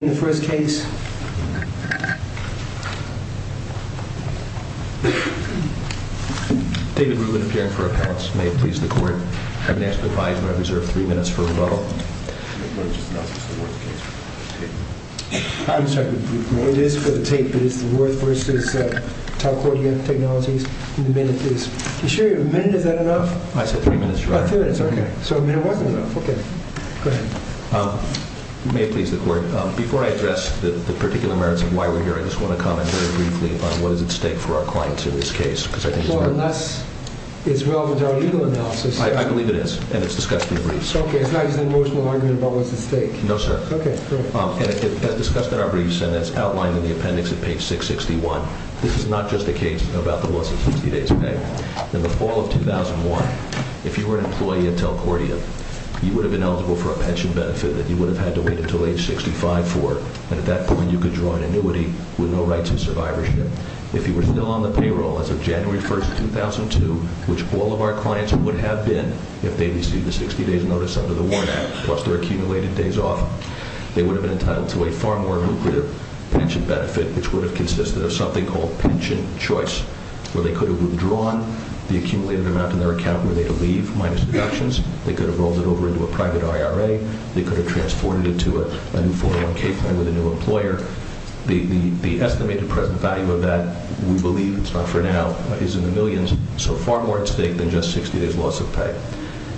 In the first case, David Rubin, appearing for a pass. May it please the court. I have an extra five, but I reserve three minutes for rebuttal. I'm sorry, it is for the tape, but it's the Worth v. Telcordia Technologies. Are you sure a minute is that enough? I said three minutes, Your Honor. Oh, three minutes, okay. May it please the court. Before I address the particular merits of why we're here, I just want to comment very briefly on what is at stake for our clients in this case. Well, unless it's relevant to our legal analysis. I believe it is, and it's discussed in the briefs. Okay, it's not just an emotional argument about what's at stake. No, sir. Okay, great. And it's discussed in our briefs and it's outlined in the appendix at page 661. This is not just a case about the loss of 60 days' pay. In the fall of 2001, if you were an employee at Telcordia, you would have been eligible for a pension benefit that you would have had to wait until age 65 for. And at that point, you could draw an annuity with no right to survivorship. If you were still on the payroll as of January 1, 2002, which all of our clients would have been if they received a 60 days' notice under the WARN Act, plus their accumulated days off, they would have been entitled to a far more lucrative pension benefit, which would have consisted of something called pension choice, where they could have withdrawn the accumulated amount in their account were they to leave, minus deductions. They could have rolled it over into a private IRA. They could have transported it to a new 401k plan with a new employer. The estimated present value of that, we believe, it's not for now, is in the millions. So far more at stake than just 60 days' loss of pay.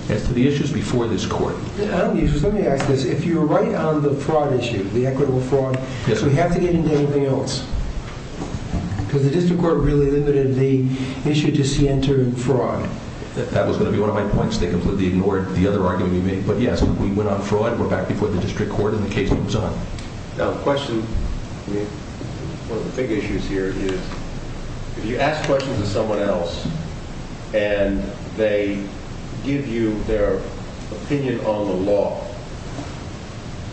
As to the issues before this court. Let me ask this. If you're right on the fraud issue, the equitable fraud, so we have to get into anything else? Because the district court really limited the issue to see entering fraud. That was going to be one of my points. They completely ignored the other argument we made. But yes, we went on fraud. We're back before the district court, and the case moves on. Now, the question, one of the big issues here is, if you ask questions of someone else, and they give you their opinion on the law,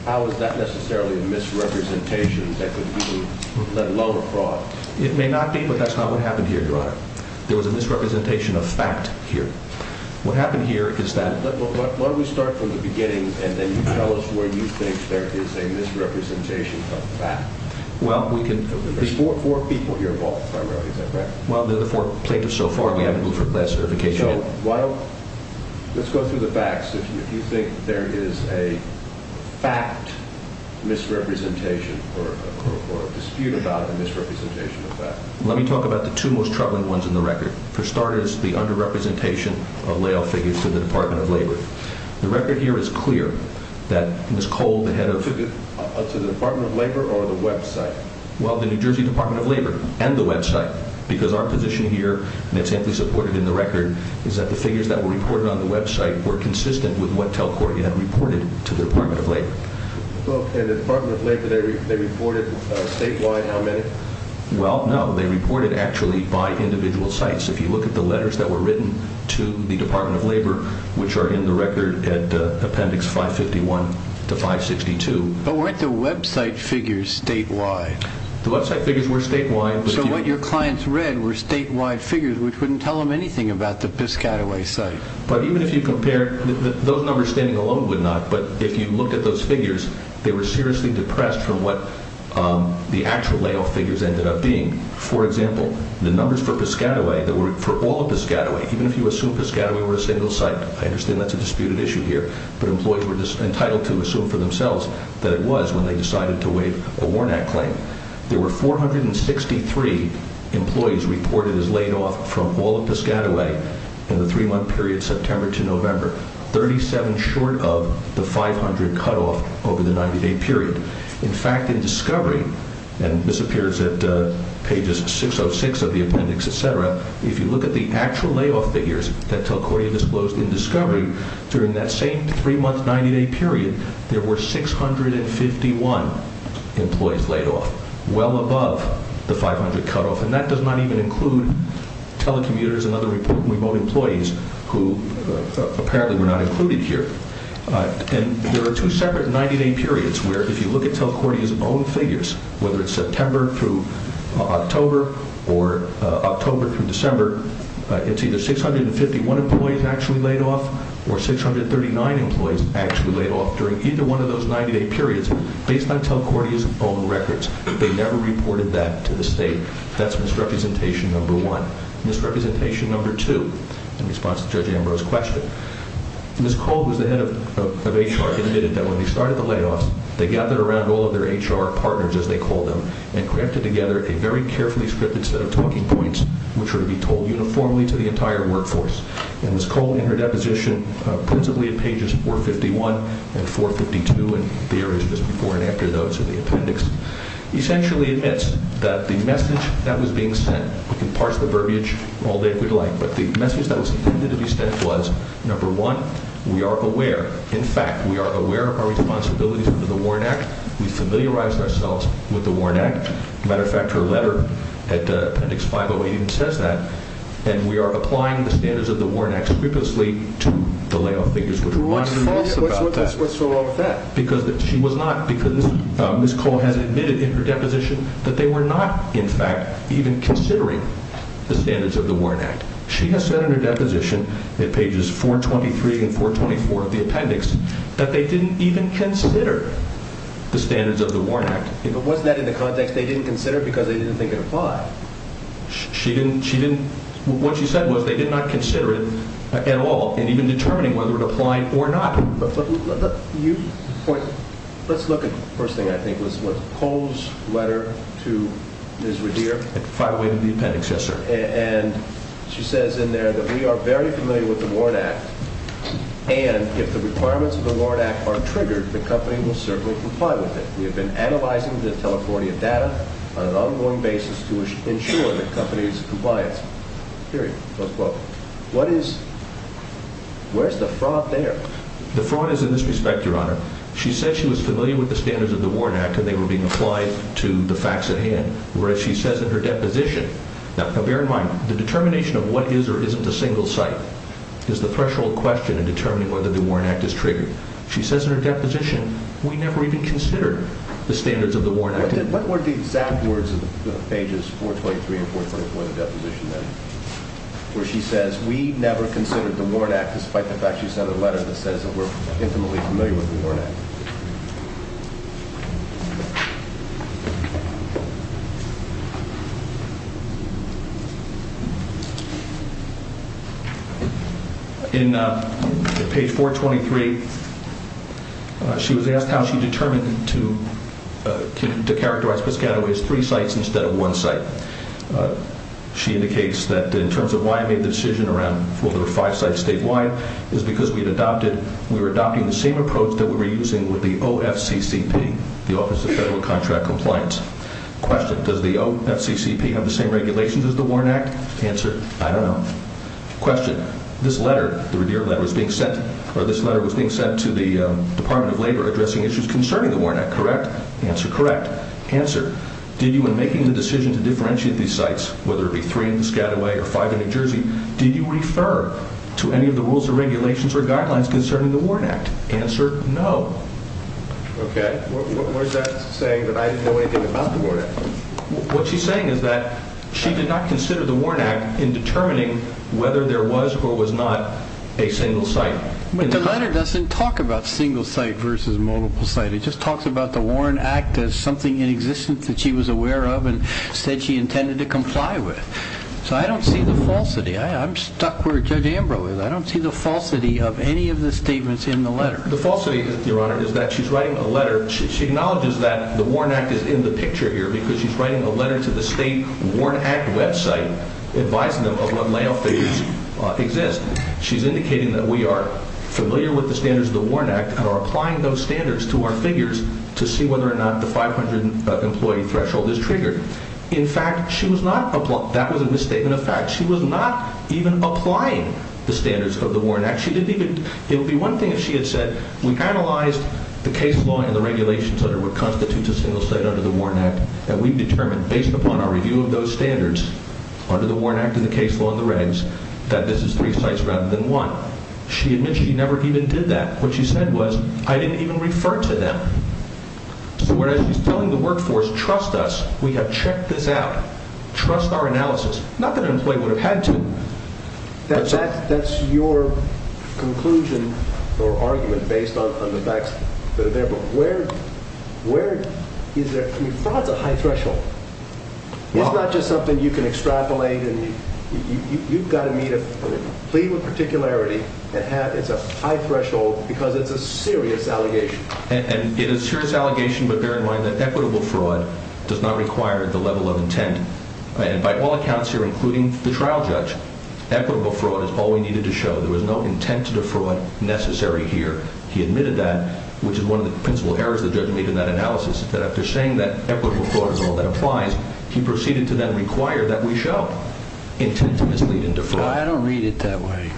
how is that necessarily a misrepresentation that could be, let alone a fraud? It may not be, but that's not what happened here, Your Honor. There was a misrepresentation of fact here. Why don't we start from the beginning, and then you tell us where you think there is a misrepresentation of fact. There's four people here, Walt, primarily. Is that correct? Well, they're the four plaintiffs so far. We haven't moved from last certification yet. Let's go through the facts. If you think there is a fact misrepresentation, or a dispute about a misrepresentation of fact. Let me talk about the two most troubling ones in the record. For starters, the underrepresentation of layoff figures to the Department of Labor. The record here is clear that Ms. Cole, the head of... To the Department of Labor, or the website? Well, the New Jersey Department of Labor, and the website, because our position here, and it's amply supported in the record, is that the figures that were reported on the website were consistent with what Telcordia had reported to the Department of Labor. And the Department of Labor, they reported statewide how many? Well, no, they reported actually by individual sites. If you look at the letters that were written to the Department of Labor, which are in the record at Appendix 551 to 562. But weren't the website figures statewide? The website figures were statewide. So what your clients read were statewide figures, which wouldn't tell them anything about the Piscataway site. But even if you compare, those numbers standing alone would not. But if you looked at those figures, they were seriously depressed from what the actual layoff figures ended up being. For example, the numbers for Piscataway, for all of Piscataway, even if you assume Piscataway were a single site, I understand that's a disputed issue here, but employees were entitled to assume for themselves that it was when they decided to waive a Warnack claim. There were 463 employees reported as laid off from all of Piscataway in the three-month period September to November. Thirty-seven short of the 500 cutoff over the 90-day period. In fact, in Discovery, and this appears at pages 606 of the appendix, et cetera, if you look at the actual layoff figures that Telcordia disclosed in Discovery during that same three-month 90-day period, there were 651 employees laid off, well above the 500 cutoff. And that does not even include telecommuters and other remote employees who apparently were not included here. And there are two separate 90-day periods where if you look at Telcordia's own figures, whether it's September through October or October through December, it's either 651 employees actually laid off or 639 employees actually laid off during either one of those 90-day periods based on Telcordia's own records. They never reported that to the state. That's misrepresentation number one. Misrepresentation number two, in response to Judge Ambrose's question, Ms. Cole, who is the head of HR, admitted that when they started the layoffs, they gathered around all of their HR partners, as they called them, and crafted together a very carefully scripted set of talking points which were to be told uniformly to the entire workforce. And Ms. Cole, in her deposition, principally at pages 451 and 452, and there is just before and after those in the appendix, essentially admits that the message that was being sent, we can parse the verbiage all day if we'd like, but the message that was intended to be sent was, number one, we are aware. In fact, we are aware of our responsibilities under the Warren Act. We familiarize ourselves with the Warren Act. As a matter of fact, her letter at appendix 508 even says that. And we are applying the standards of the Warren Act scrupulously to the layoff figures. What's false about that? What's wrong with that? Because Ms. Cole has admitted in her deposition that they were not, in fact, even considering the standards of the Warren Act. She has said in her deposition at pages 423 and 424 of the appendix that they didn't even consider the standards of the Warren Act. But wasn't that in the context they didn't consider because they didn't think it applied? What she said was they did not consider it at all in even determining whether it applied or not. Let's look at the first thing, I think, was Cole's letter to Ms. Revere. It fire-weighted the appendix, yes, sir. And she says in there that we are very familiar with the Warren Act, and if the requirements of the Warren Act are triggered, the company will certainly comply with it. We have been analyzing the telephonic data on an ongoing basis to ensure the company's compliance, period, close quote. What is – where's the fraud there? The fraud is in this respect, Your Honor. She said she was familiar with the standards of the Warren Act and they were being applied to the facts at hand, whereas she says in her deposition – now bear in mind, the determination of what is or isn't a single site is the threshold question in determining whether the Warren Act is triggered. She says in her deposition we never even considered the standards of the Warren Act. What were the exact words of the pages 423 and 424 of the deposition then where she says we never considered the Warren Act despite the fact she sent a letter that says that we're intimately familiar with the Warren Act? In page 423, she was asked how she determined to characterize Piscataway as three sites instead of one site. She indicates that in terms of why I made the decision around four or five sites statewide is because we had adopted – we were adopting the same approach that we were using with the OFCCP, the Office of Federal Contract Compliance. Question, does the OFCCP have the same regulations as the Warren Act? Answer, I don't know. Question, this letter, the Revere letter, was being sent to the Department of Labor addressing issues concerning the Warren Act, correct? Answer, correct. Answer, did you in making the decision to differentiate these sites, whether it be three in Piscataway or five in New Jersey, did you refer to any of the rules or regulations or guidelines concerning the Warren Act? Answer, no. Okay. What is that saying that I didn't know anything about the Warren Act? What she's saying is that she did not consider the Warren Act in determining whether there was or was not a single site. The letter doesn't talk about single site versus multiple site. It just talks about the Warren Act as something in existence that she was aware of and said she intended to comply with. So I don't see the falsity. I'm stuck where Judge Ambrose is. The falsity, Your Honor, is that she's writing a letter, she acknowledges that the Warren Act is in the picture here because she's writing a letter to the state Warren Act website advising them of what layout figures exist. She's indicating that we are familiar with the standards of the Warren Act and are applying those standards to our figures to see whether or not the 500 employee threshold is triggered. In fact, she was not, that was a misstatement of fact. She was not even applying the standards of the Warren Act. It would be one thing if she had said we analyzed the case law and the regulations under what constitutes a single site under the Warren Act that we've determined based upon our review of those standards under the Warren Act and the case law and the regs that this is three sites rather than one. She admits she never even did that. What she said was, I didn't even refer to them. So what she's telling the workforce, trust us. We have checked this out. Trust our analysis. Not that an employee would have had to. That's your conclusion or argument based on the facts that are there. But where, where is there, I mean fraud's a high threshold. It's not just something you can extrapolate and you've got to meet a, I mean, plead with particularity and have, it's a high threshold because it's a serious allegation. And it is a serious allegation, but bear in mind that equitable fraud does not require the level of intent. And by all accounts here, including the trial judge, equitable fraud is all we needed to show. There was no intent to defraud necessary here. He admitted that, which is one of the principal errors the judge made in that analysis, that after saying that equitable fraud is all that applies, he proceeded to then require that we show intent to mislead and defraud. I don't read it that way.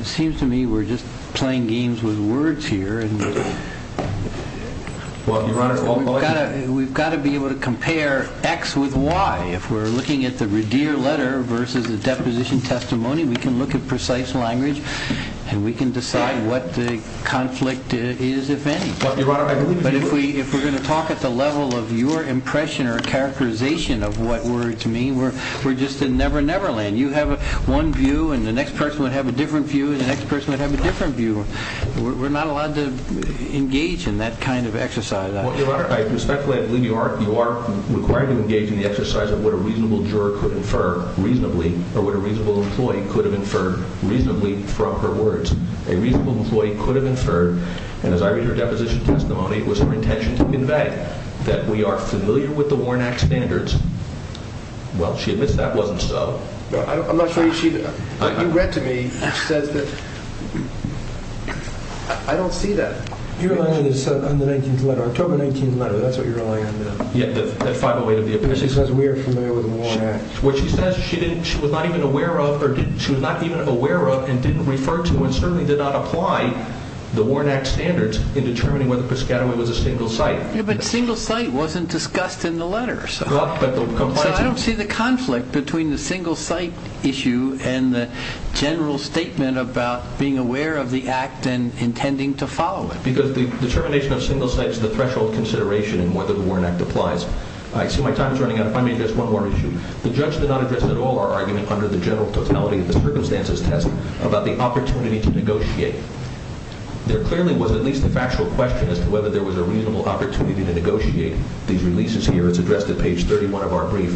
It seems to me we're just playing games with words here. We've got to be able to compare X with Y. If we're looking at the Redeer letter versus the deposition testimony, we can look at precise language and we can decide what the conflict is, if any. But if we're going to talk at the level of your impression or characterization of what words mean, we're just in Never Never Land. You have one view and the next person would have a different view and the next person would have a different view. We're not allowed to engage in that kind of exercise. Your Honor, I respectfully believe you are required to engage in the exercise of what a reasonable juror could infer reasonably or what a reasonable employee could have inferred reasonably from her words. A reasonable employee could have inferred, and as I read her deposition testimony, it was her intention to convey that we are familiar with the Warren Act standards. Well, she admits that wasn't so. You read to me that she says that I don't see that. You're relying on the 19th letter, October 19th letter, that's what you're relying on. Yeah, that 508 of the opinion. She says we are familiar with the Warren Act. What she says is she was not even aware of and didn't refer to and certainly did not apply the Warren Act standards in determining whether Piscataway was a single site. Yeah, but single site wasn't discussed in the letter. So I don't see the conflict between the single site issue and the general statement about being aware of the act and intending to follow it. Because the determination of single site is the threshold consideration in whether the Warren Act applies. I see my time is running out. If I may address one more issue. The judge did not address at all our argument under the general totality of the circumstances test about the opportunity to negotiate. There clearly was at least a factual question as to whether there was a reasonable opportunity to negotiate. These releases here, it's addressed at page 31 of our brief.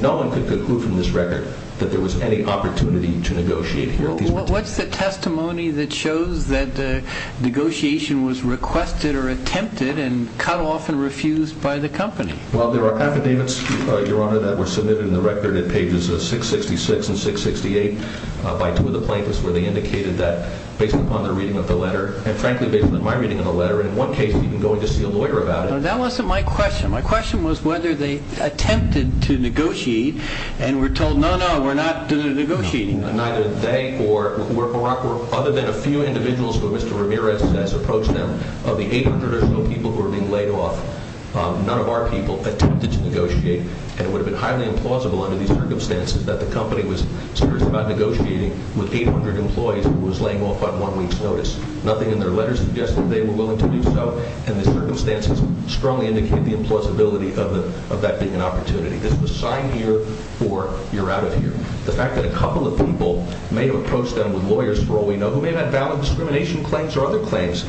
No one could conclude from this record that there was any opportunity to negotiate here. What's the testimony that shows that the negotiation was requested or attempted and cut off and refused by the company? Well, there are affidavits, Your Honor, that were submitted in the record at pages 666 and 668 by two of the plaintiffs where they indicated that based upon their reading of the letter and frankly based upon my reading of the letter and in one case even going to see a lawyer about it. So that wasn't my question. My question was whether they attempted to negotiate and were told, no, no, we're not going to negotiate. Neither they or other than a few individuals who Mr. Ramirez has approached them, of the 800 or so people who were being laid off, none of our people attempted to negotiate. And it would have been highly implausible under these circumstances that the company was serious about negotiating with 800 employees who was laying off on one week's notice. Nothing in their letter suggested they were willing to do so. And the circumstances strongly indicate the implausibility of that being an opportunity. This is a sign here for you're out of here. The fact that a couple of people may have approached them with lawyers for all we know who may have had valid discrimination claims or other claims,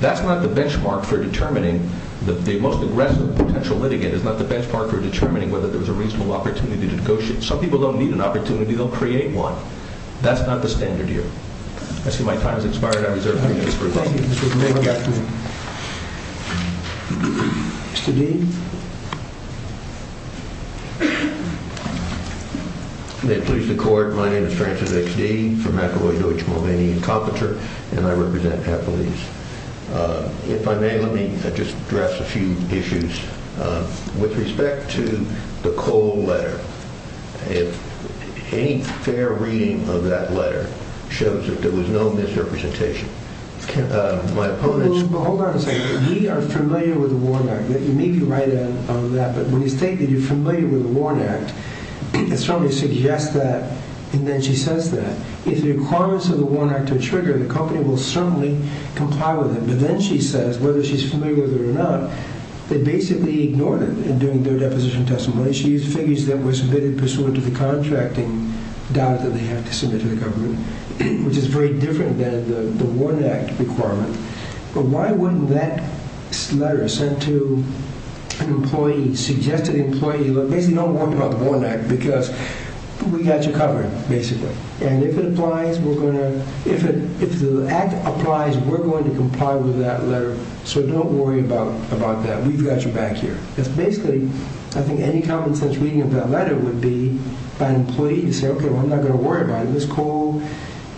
that's not the benchmark for determining that the most aggressive potential litigant is not the benchmark for determining whether there was a reasonable opportunity to negotiate. Some people don't need an opportunity. They'll create one. That's not the standard here. I see my time has expired. I reserve 30 minutes for questions. Thank you. Mr. Dean? May it please the court, my name is Francis X. Dean from McElroy, Deutsch, Mulvaney & Carpenter and I represent Happily's. If I may, let me just address a few issues. With respect to the Cole letter, any fair reading of that letter shows that there was no misrepresentation. Hold on a second. We are familiar with the Warn Act. You may be right on that, but when you state that you're familiar with the Warn Act, it strongly suggests that, and then she says that, if the requirements of the Warn Act are triggered, the company will certainly comply with it. But then she says, whether she's familiar with it or not, they basically ignored it in doing their deposition testimony. She used figures that were submitted pursuant to the contracting document that they have to submit to the government, which is very different than the Warn Act requirement. But why wouldn't that letter sent to an employee, suggested employee, basically don't worry about the Warn Act because we've got you covered, basically. And if it applies, we're going to, if the Act applies, we're going to comply with that letter. So don't worry about that. We've got your back here. That's basically, I think, any common sense reading of that letter would be by an employee to say, okay, well, I'm not going to worry about it. Ms. Cole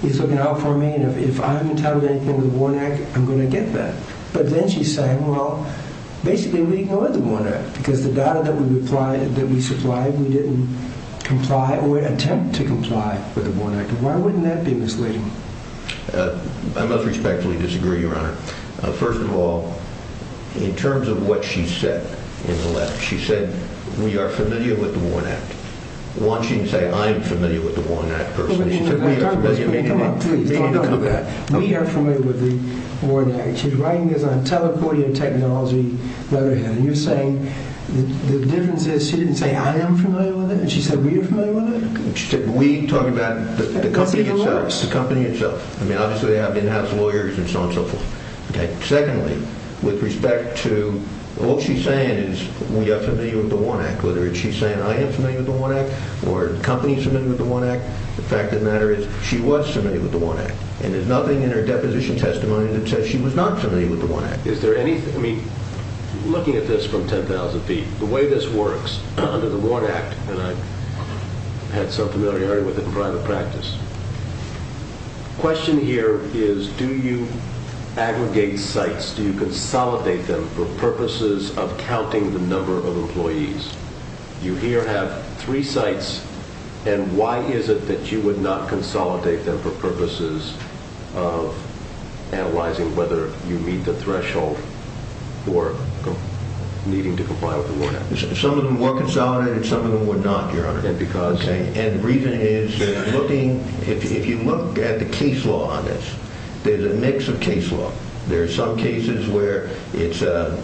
is looking out for me, and if I haven't entitled anything to the Warn Act, I'm going to get that. But then she's saying, well, basically we ignored the Warn Act because the data that we supplied, we didn't comply or attempt to comply with the Warn Act. Why wouldn't that be misleading? I must respectfully disagree, Your Honor. First of all, in terms of what she said in the letter, she said we are familiar with the Warn Act. One, she didn't say I am familiar with the Warn Act personally. She said we are familiar with the Warn Act. She was writing this on teleporting technology letterhead, and you're saying the difference is she didn't say I am familiar with it, and she said we are familiar with it? She said we talking about the company itself. I mean, obviously they have in-house lawyers and so on and so forth. Secondly, with respect to what she's saying is we are familiar with the Warn Act. Whether she's saying I am familiar with the Warn Act or the company is familiar with the Warn Act, the fact of the matter is she was familiar with the Warn Act, and there's nothing in her deposition testimony that says she was not familiar with the Warn Act. Is there anything, I mean, looking at this from 10,000 feet, the way this works under the Warn Act, and I had some familiarity with it in private practice, the question here is do you aggregate sites, do you consolidate them for purposes of counting the number of employees? You here have three sites, and why is it that you would not consolidate them for purposes of analyzing whether you meet the threshold for needing to comply with the Warn Act? Some of them were consolidated. Some of them were not, Your Honor. And the reason is looking, if you look at the case law on this, there's a mix of case law. There are some cases where it's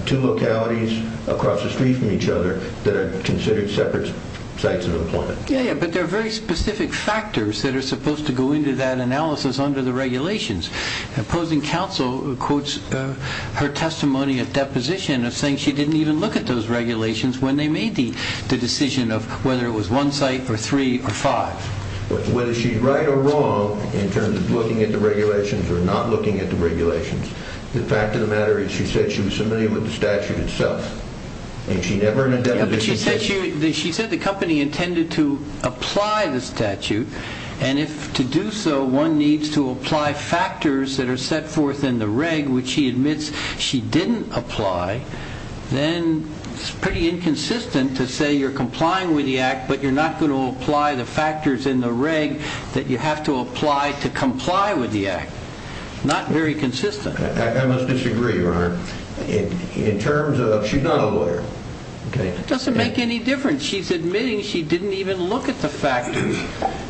two localities across the street from each other that are considered separate sites of employment. Yeah, but there are very specific factors that are supposed to go into that analysis under the regulations. The opposing counsel quotes her testimony at deposition of saying she didn't even look at those regulations when they made the decision of whether it was one site or three or five. Whether she's right or wrong in terms of looking at the regulations or not looking at the regulations, the fact of the matter is she said she was familiar with the statute itself, and she never in a deposition said… Yeah, but she said the company intended to apply the statute, and if to do so one needs to apply factors that are set forth in the reg in which she admits she didn't apply, then it's pretty inconsistent to say you're complying with the Act but you're not going to apply the factors in the reg that you have to apply to comply with the Act. Not very consistent. I must disagree, Your Honor, in terms of she's not a lawyer. It doesn't make any difference. She's admitting she didn't even look at the factors,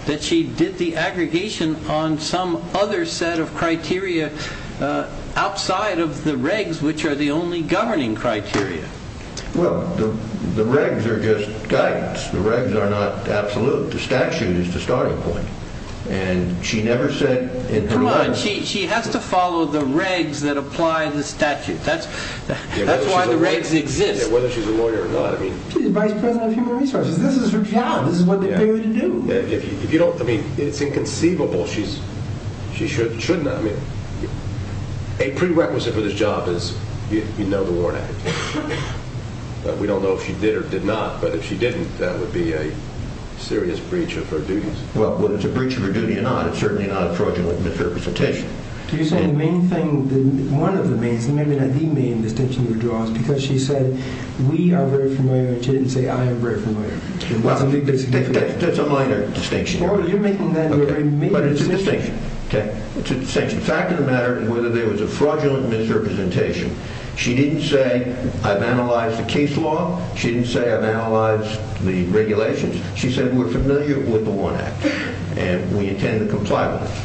that she did the aggregation on some other set of criteria outside of the regs, which are the only governing criteria. Well, the regs are just guidance. The regs are not absolute. The statute is the starting point, and she never said… Come on. She has to follow the regs that apply the statute. That's why the regs exist. Whether she's a lawyer or not. She's the vice president of human resources. This is her job. This is what they pay her to do. If you don't… I mean, it's inconceivable she should not… I mean, a prerequisite for this job is you know the warrant application. We don't know if she did or did not, but if she didn't, that would be a serious breach of her duties. Well, whether it's a breach of her duty or not, it's certainly not a fraudulent misrepresentation. You're saying the main thing… One of the main… Maybe not the main distinction you're drawing is because she said we are very familiar, and she didn't say I am very familiar. That's a minor distinction. You're making that a very major distinction. But it's a distinction, okay? It's a distinction. The fact of the matter is whether there was a fraudulent misrepresentation. She didn't say I've analyzed the case law. She didn't say I've analyzed the regulations. She said we're familiar with the Warrant Act, and we intend to comply with it.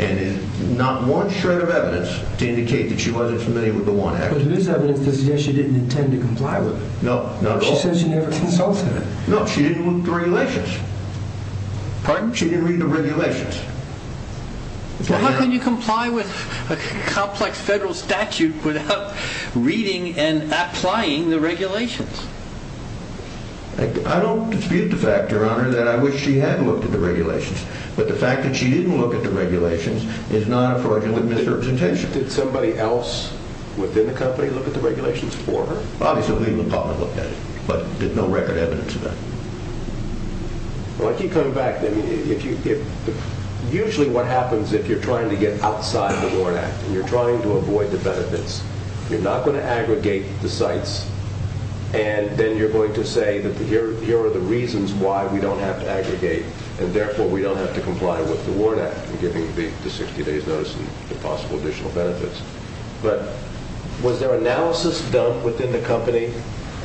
And there's not one shred of evidence to indicate that she wasn't familiar with the Warrant Act. But there is evidence to suggest she didn't intend to comply with it. No, not at all. She said she never consulted it. No, she didn't look at the regulations. Pardon? She didn't read the regulations. How can you comply with a complex federal statute without reading and applying the regulations? I don't dispute the fact, Your Honor, that I wish she had looked at the regulations. But the fact that she didn't look at the regulations is not a fraudulent misrepresentation. Did somebody else within the company look at the regulations for her? Obviously, the legal department looked at it, but there's no record evidence of that. Well, I keep coming back. Usually what happens if you're trying to get outside the Warrant Act and you're trying to avoid the benefits, you're not going to aggregate the sites, and then you're going to say that here are the reasons why we don't have to aggregate, and therefore we don't have to comply with the Warrant Act in giving the 60 days notice and the possible additional benefits. But was there analysis done within the company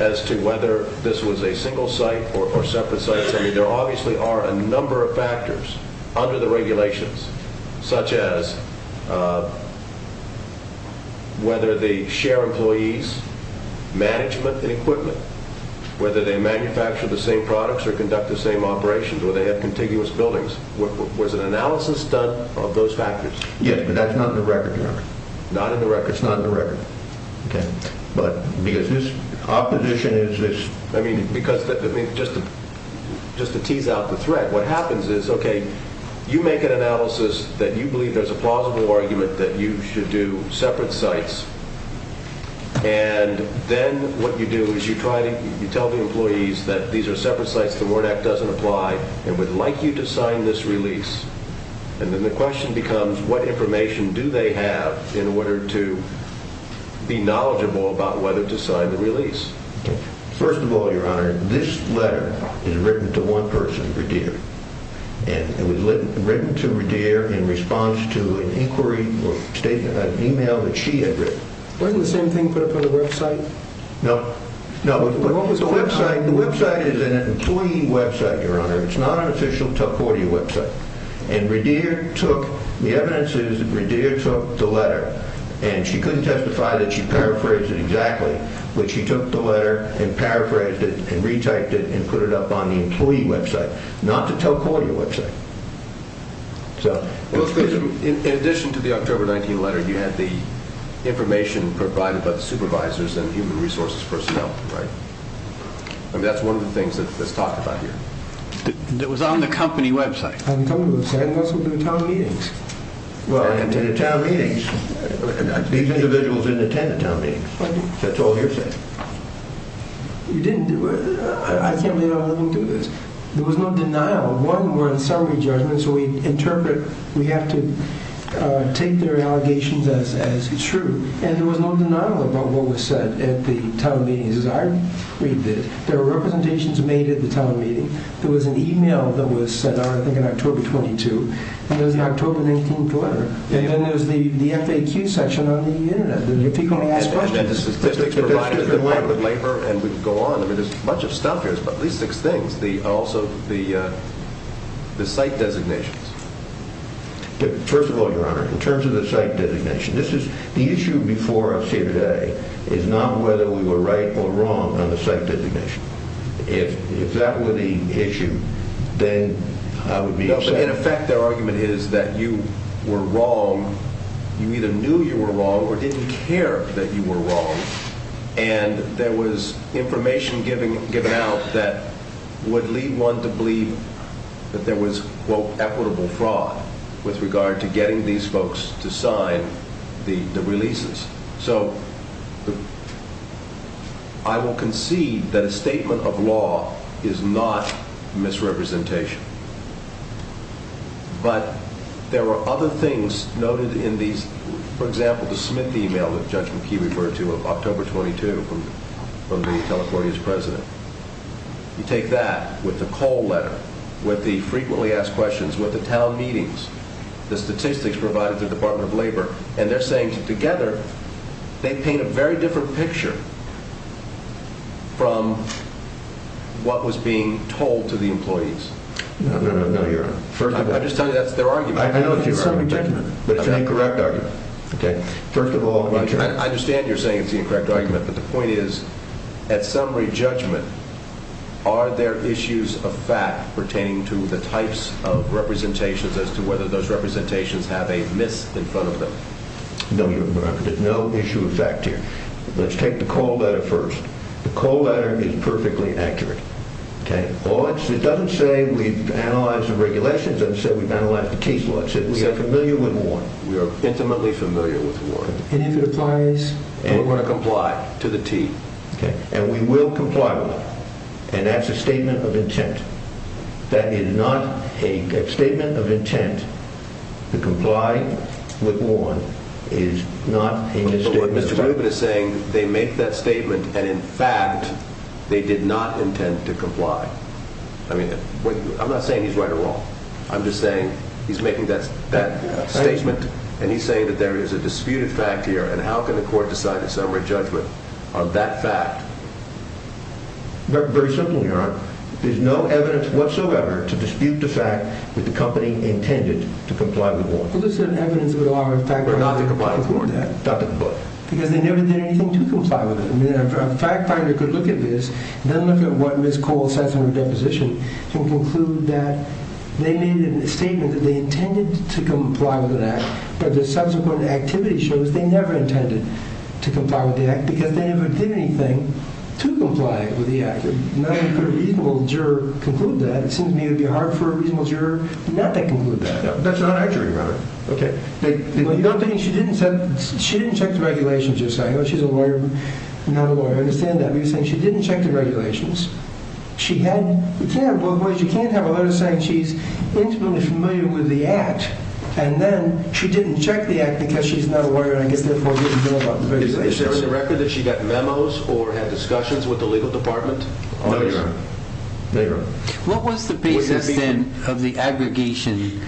as to whether this was a single site or separate sites? I mean, there obviously are a number of factors under the regulations, such as whether they share employees, management and equipment, whether they manufacture the same products or conduct the same operations, whether they have contiguous buildings. Was an analysis done of those factors? Yes, but that's not in the record. Not in the record. It's not in the record. But because this opposition is... I mean, just to tease out the threat, what happens is, okay, you make an analysis that you believe there's a plausible argument that you should do separate sites, and then what you do is you tell the employees that these are separate sites, the Warrant Act doesn't apply, and would like you to sign this release. And then the question becomes, what information do they have in order to be knowledgeable about whether to sign the release? First of all, Your Honor, this letter is written to one person, Radir. And it was written to Radir in response to an inquiry or an email that she had written. Wasn't the same thing put up on the website? No. What was the website? The website is an employee website, Your Honor. It's not an official Tuckordia website. And Radir took... The evidence is that Radir took the letter, and she couldn't testify that she paraphrased it exactly, but she took the letter and paraphrased it and retyped it and put it up on the employee website, not the Tuckordia website. In addition to the October 19 letter, you had the information provided by the supervisors and human resources personnel, right? I mean, that's one of the things that's talked about here. It was on the company website. On the company website. And also the town meetings. And the town meetings. These individuals didn't attend the town meetings. That's all you're saying. You didn't do it? I can't believe I'm letting you do this. There was no denial. One, we're in summary judgment, so we interpret... We have to take their allegations as true. And there was no denial about what was said at the town meetings. As I read this, there were representations made at the town meeting. There was an e-mail that was sent out, I think, on October 22. And there was an October 19 letter. And then there was the FAQ section on the Internet. People only ask questions. And the statistics provided by the Department of Labor and would go on. I mean, there's a bunch of stuff here. It's at least six things. Also, the site designations. First of all, Your Honor, in terms of the site designation, the issue before us here today is not whether we were right or wrong on the site designation. If that were the issue, then I would be upset. No, but in effect, their argument is that you were wrong. You either knew you were wrong or didn't care that you were wrong. And there was information given out that would lead one to believe that there was, quote, equitable fraud with regard to getting these folks to sign the releases. So I will concede that a statement of law is not misrepresentation. But there were other things noted in these. For example, the Smith e-mail that Judge McKee referred to on October 22 from the California's president. You take that with the call letter, with the frequently asked questions, with the town meetings, the statistics provided by the Department of Labor, and they're saying together they paint a very different picture from what was being told to the employees. No, no, no, Your Honor. I'm just telling you that's their argument. I know it's your argument. It's summary judgment. But it's an incorrect argument. First of all, in terms of... I understand you're saying it's the incorrect argument, but the point is, at summary judgment, are there issues of fact pertaining to the types of representations as to whether those representations have a miss in front of them? No, Your Honor. There's no issue of fact here. Let's take the call letter first. The call letter is perfectly accurate. It doesn't say we've analyzed the regulations. It doesn't say we've analyzed the T's. We are familiar with one. We are intimately familiar with one. And if it applies? We're going to comply to the T. And we will comply with it. And that's a statement of intent. That is not a statement of intent. The comply with one is not a misstatement of intent. But what Mr. Rubin is saying, they make that statement, and, in fact, they did not intend to comply. I mean, I'm not saying he's right or wrong. I'm just saying he's making that statement, and he's saying that there is a disputed fact here, and how can the court decide at summary judgment on that fact? Very simply, Your Honor. There's no evidence whatsoever to dispute the fact that the company intended to comply with one. Well, there's evidence that would allow the fact finder to conclude that. But not to comply with one. Not to comply. Because they never did anything to comply with it. I mean, a fact finder could look at this and then look at what Ms. Cole says in her deposition and conclude that they made a statement that they intended to comply with an act, but the subsequent activity shows they never intended to comply with the act because they never did anything to comply with the act. Now, if a reasonable juror could conclude that, it seems to me it would be hard for a reasonable juror not to conclude that. That's not our jury, Your Honor. Okay. You don't think she didn't check the regulations, you're saying? She's a lawyer, not a lawyer. I understand that. You're saying she didn't check the regulations. She hadn't. You can't have a lawyer saying she's intimately familiar with the act, and then she didn't check the act because she's not a lawyer and I guess therefore didn't know about the regulations. Is there a record that she got memos or had discussions with the legal department? No, Your Honor. What was the basis then of the aggregation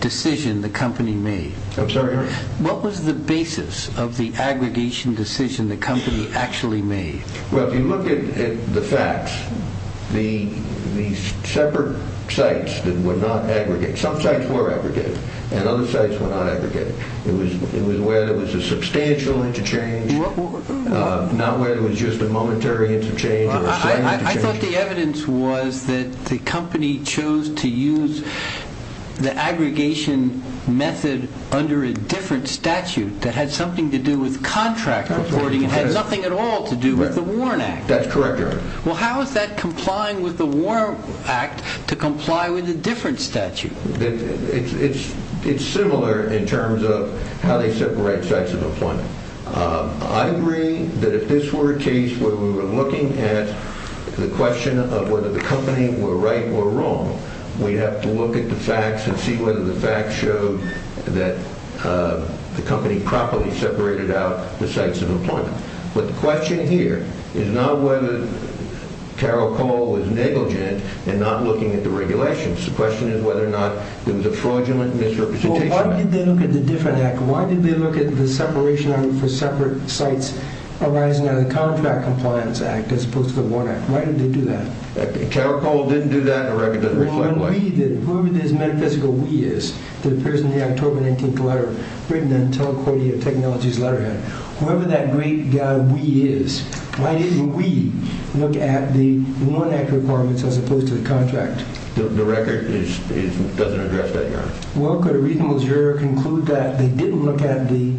decision the company made? I'm sorry, Your Honor? What was the basis of the aggregation decision the company actually made? Well, if you look at the facts, the separate sites that were not aggregated, some sites were aggregated and other sites were not aggregated. It was where there was a substantial interchange, not where there was just a momentary interchange or a slight interchange. I thought the evidence was that the company chose to use the aggregation method under a different statute that had something to do with contract reporting and had nothing at all to do with the Warren Act. That's correct, Your Honor. Well, how is that complying with the Warren Act to comply with a different statute? It's similar in terms of how they separate sites of employment. I agree that if this were a case where we were looking at the question of whether the company were right or wrong, we'd have to look at the facts and see whether the facts showed that the company properly separated out the sites of employment. But the question here is not whether Carol Cole was negligent in not looking at the regulations. The question is whether or not there was a fraudulent misrepresentation. Well, why did they look at the different act? Why did they look at the separation for separate sites arising out of the Contract Compliance Act as opposed to the Warren Act? Why did they do that? Carol Cole didn't do that? The record doesn't reflect that? Whoever this metaphysical we is that appears in the October 19th letter written in the Telecordia Technologies letterhead, whoever that great guy we is, why didn't we look at the Warren Act requirements as opposed to the contract? The record doesn't address that, Your Honor. Well, could a reasonable juror conclude that they didn't look at the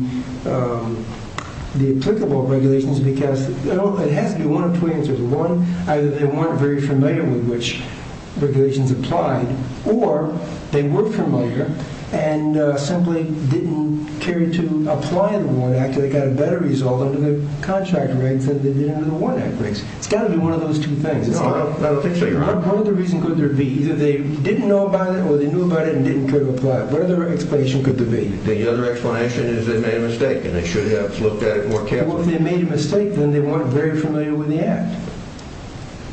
applicable regulations because it has to be one of two answers. One, either they weren't very familiar with which regulations applied or they were familiar and simply didn't care to apply the Warren Act and they got a better result under the contract regs than they did under the Warren Act regs. It's got to be one of those two things. No, Your Honor. What other reason could there be? Either they didn't know about it or they knew about it and didn't care to apply it. What other explanation could there be? The other explanation is they made a mistake and they should have looked at it more carefully. Well, if they made a mistake, then they weren't very familiar with the act.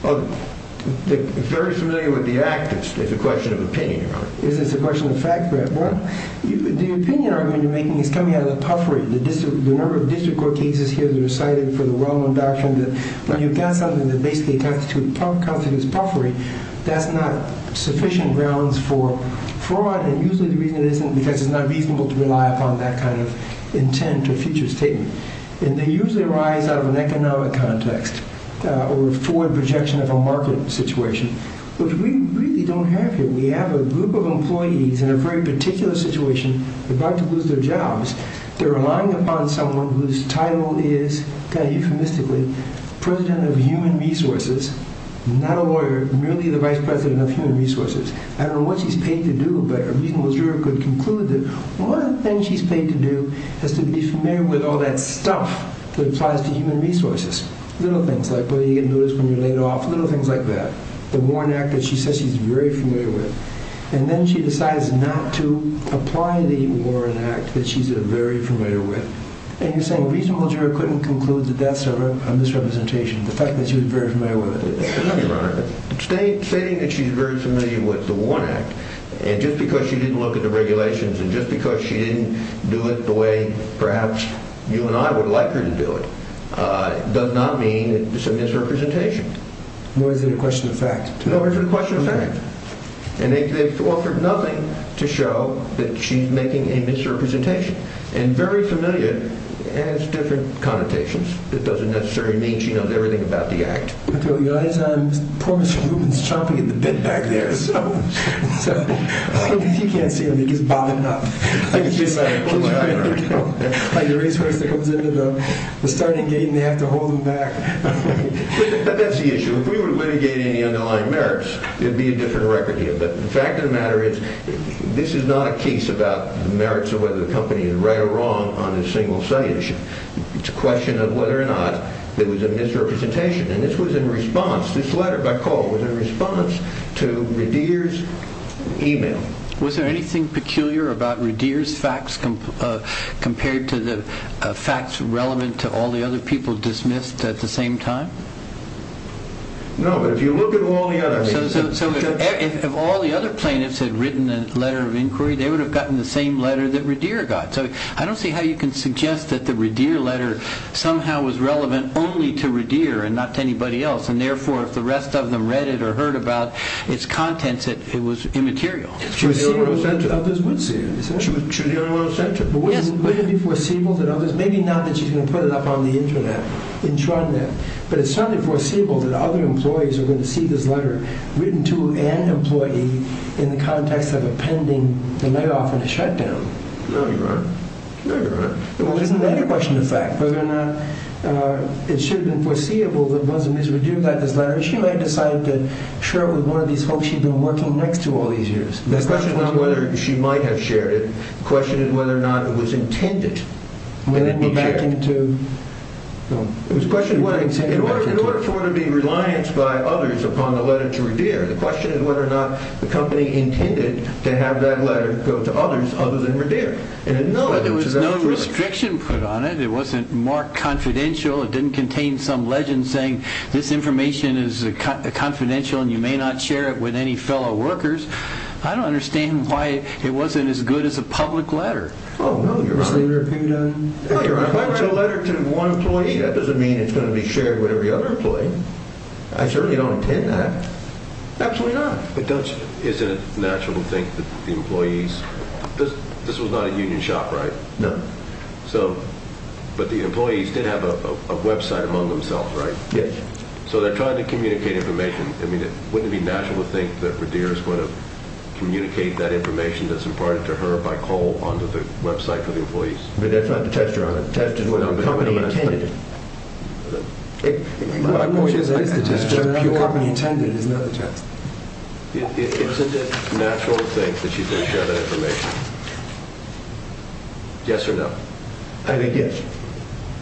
Very familiar with the act is a question of opinion, Your Honor. Is this a question of fact, Brad? Well, the opinion argument you're making is coming out of the puffery. The number of district court cases here that are cited for the wrong of doctrine that when you've got something that basically constitutes puffery, that's not sufficient grounds for fraud and usually the reason it isn't because it's not reasonable to rely upon that kind of intent or future statement. And they usually arise out of an economic context or a forward projection of a market situation, which we really don't have here. We have a group of employees in a very particular situation about to lose their jobs. They're relying upon someone whose title is, kind of euphemistically, president of human resources, not a lawyer, merely the vice president of human resources. I don't know what she's paid to do, but a reasonable juror could conclude that one thing she's paid to do is to be familiar with all that stuff that applies to human resources. Little things like, well, you get noticed when you're laid off, little things like that. The Warren Act that she says she's very familiar with. And then she decides not to apply the Warren Act that she's very familiar with. And you're saying a reasonable juror couldn't conclude that that's a misrepresentation, the fact that she was very familiar with it. No, Your Honor, stating that she's very familiar with the Warren Act, and just because she didn't look at the regulations, and just because she didn't do it the way perhaps you and I would like her to do it, does not mean it's a misrepresentation. Nor is it a question of fact. Nor is it a question of fact. And they've offered nothing to show that she's making a misrepresentation. And very familiar adds different connotations. It doesn't necessarily mean she knows everything about the Act. Your Honor, the poor Mr. Rubin is chomping at the bit back there. He can't see him. He's bobbing up. I can see him. Like the racehorse that goes into the starting gate and they have to hold him back. That's the issue. If we were to litigate any underlying merits, it would be a different record here. But the fact of the matter is, this is not a case about the merits or whether the company is right or wrong on a single side issue. It's a question of whether or not it was a misrepresentation. And this was in response. This letter by Cole was in response to Radir's email. Was there anything peculiar about Radir's facts compared to the facts relevant to all the other people dismissed at the same time? No, but if you look at all the other people. So if all the other plaintiffs had written a letter of inquiry, they would have gotten the same letter that Radir got. So I don't see how you can suggest that the Radir letter somehow was relevant only to Radir and not to anybody else. And therefore, if the rest of them read it or heard about its contents, it was immaterial. Others would see it. But wouldn't it be foreseeable that others, maybe not that she's going to put it up on the Internet, but it's certainly foreseeable that other employees are going to see this letter written to an employee in the context of a pending layoff and a shutdown? No, you're right. Well, isn't that a question of fact? Whether or not it should have been foreseeable that Rosamund Radir got this letter. She might have decided to share it with one of these folks she'd been working next to all these years. The question is not whether she might have shared it. The question is whether or not it was intended to be shared. Would it go back into... It was a question of whether or not... In order for it to be relianced by others upon the letter to Radir, the question is whether or not the company intended to have that letter go to others other than Radir. But there was no restriction put on it. It wasn't marked confidential. It didn't contain some legend saying this information is confidential and you may not share it with any fellow workers. I don't understand why it wasn't as good as a public letter. Oh, no, you're right. If I write a letter to one employee, that doesn't mean it's going to be shared with every other employee. I certainly don't intend that. Absolutely not. But don't you... Isn't it natural to think that the employees... This was not a union shop, right? No. So... But the employees did have a website among themselves, right? Yes. So they're trying to communicate information. I mean, wouldn't it be natural to think that Radir is going to communicate that information that's imparted to her by call onto the website for the employees? But that's not the test, Your Honor. The test is whether the company intended it. It... I know it is the test, but whether the company intended it is not the test. Isn't it natural to think that she's going to share that information? Yes or no? I think yes.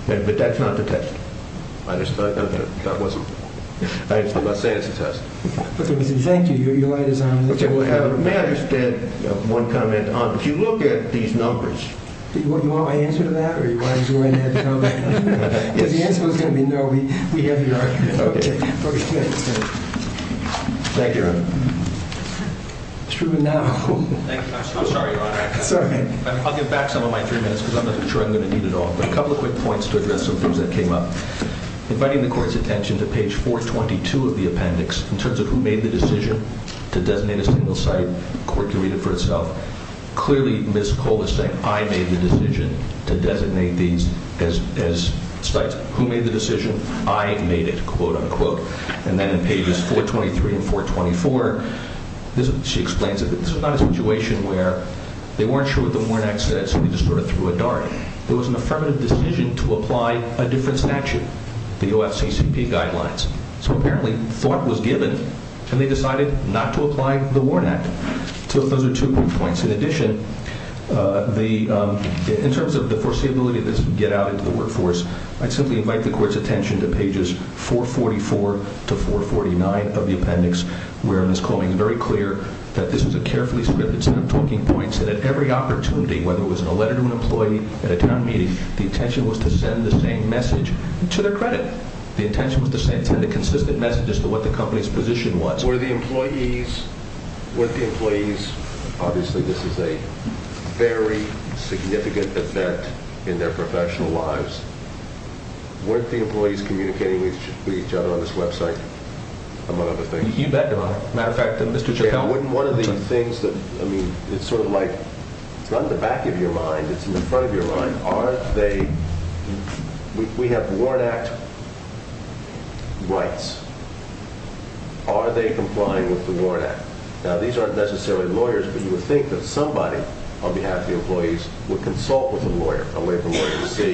But that's not the test. I understand. That wasn't... I'm not saying it's a test. Thank you. Your light is on. May I just add one comment? If you look at these numbers... Do you want my answer to that? Or do you want me to go ahead and add the number? Yes. Because the answer was going to be no. We have your argument. Okay. Okay. Thank you, Your Honor. Mr. Truman, now. I'm so sorry, Your Honor. It's all right. I'll give back some of my three minutes because I'm not sure I'm going to need it all. But a couple of quick points to address some things that came up. Inviting the Court's attention to page 422 of the appendix in terms of who made the decision to designate a single site. The Court can read it for itself. Clearly, Ms. Cole is saying, I made the decision to designate these as sites. Who made the decision? I made it, quote, unquote. And then in pages 423 and 424, she explains it. This was not a situation where they weren't sure what the MORNAC said, so they just sort of threw a dart. It was an affirmative decision to apply a different statute, the OFCCP guidelines. So apparently, thought was given, and they decided not to apply the MORNAC. So those are two quick points. In addition, in terms of the foreseeability of this get-out into the workforce, I'd simply invite the Court's attention to pages 444 to 449 of the appendix, where Ms. Coleman is very clear that this was a carefully scripted set of talking points and at every opportunity, whether it was in a letter to an employee, at a town meeting, the intention was to send the same message to their credit. The intention was to send consistent messages to what the company's position was. Were the employees – obviously, this is a very significant event in their professional lives. Weren't the employees communicating with each other on this website, among other things? You bet they were. As a matter of fact, Mr. Chappelle – One of the things that – I mean, it's sort of like – it's not in the back of your mind. It's in the front of your mind. Are they – we have the Warrant Act rights. Are they complying with the Warrant Act? Now, these aren't necessarily lawyers, but you would think that somebody on behalf of the employees would consult with a lawyer, a labor lawyer, to see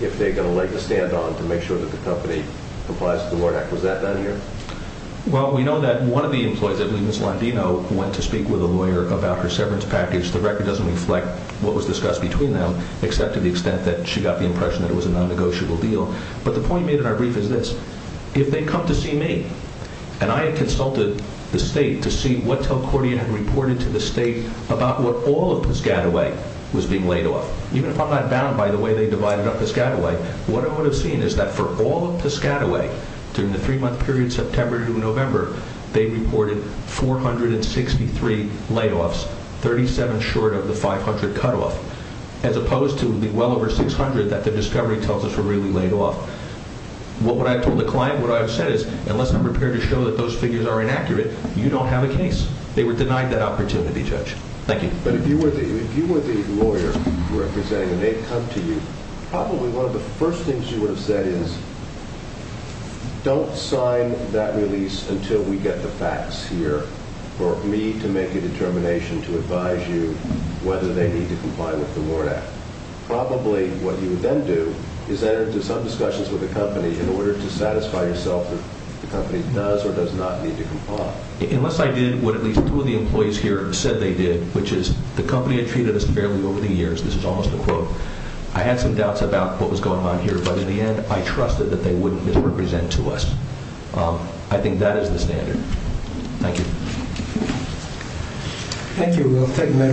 if they're going to let you stand on to make sure that the company complies with the Warrant Act. Was that done here? Well, we know that one of the employees, I believe Ms. Landino, went to speak with a lawyer about her severance package. The record doesn't reflect what was discussed between them, except to the extent that she got the impression that it was a non-negotiable deal. But the point made in our brief is this. If they come to see me, and I had consulted the State to see what Telcordia had reported to the State about what all of Piscataway was being laid off – even if I'm not bound by the way they divided up Piscataway – what I would have seen is that for all of Piscataway, during the three-month period, September to November, they reported 463 layoffs, 37 short of the 500 cutoff, as opposed to well over 600 that the discovery tells us were really laid off. What I've told the client, what I've said is, unless I'm prepared to show that those figures are inaccurate, you don't have a case. They were denied that opportunity, Judge. Thank you. But if you were the lawyer representing an aid company, probably one of the first things you would have said is, don't sign that release until we get the facts here for me to make a determination to advise you whether they need to comply with the Lord Act. Probably what you would then do is enter into some discussions with the company in order to satisfy yourself if the company does or does not need to comply. Unless I did what at least two of the employees here said they did, which is, the company had treated us fairly over the years – this is almost a quote – I had some doubts about what was going on here, but in the end I trusted that they wouldn't misrepresent to us. I think that is the standard. Thank you. Thank you, Will.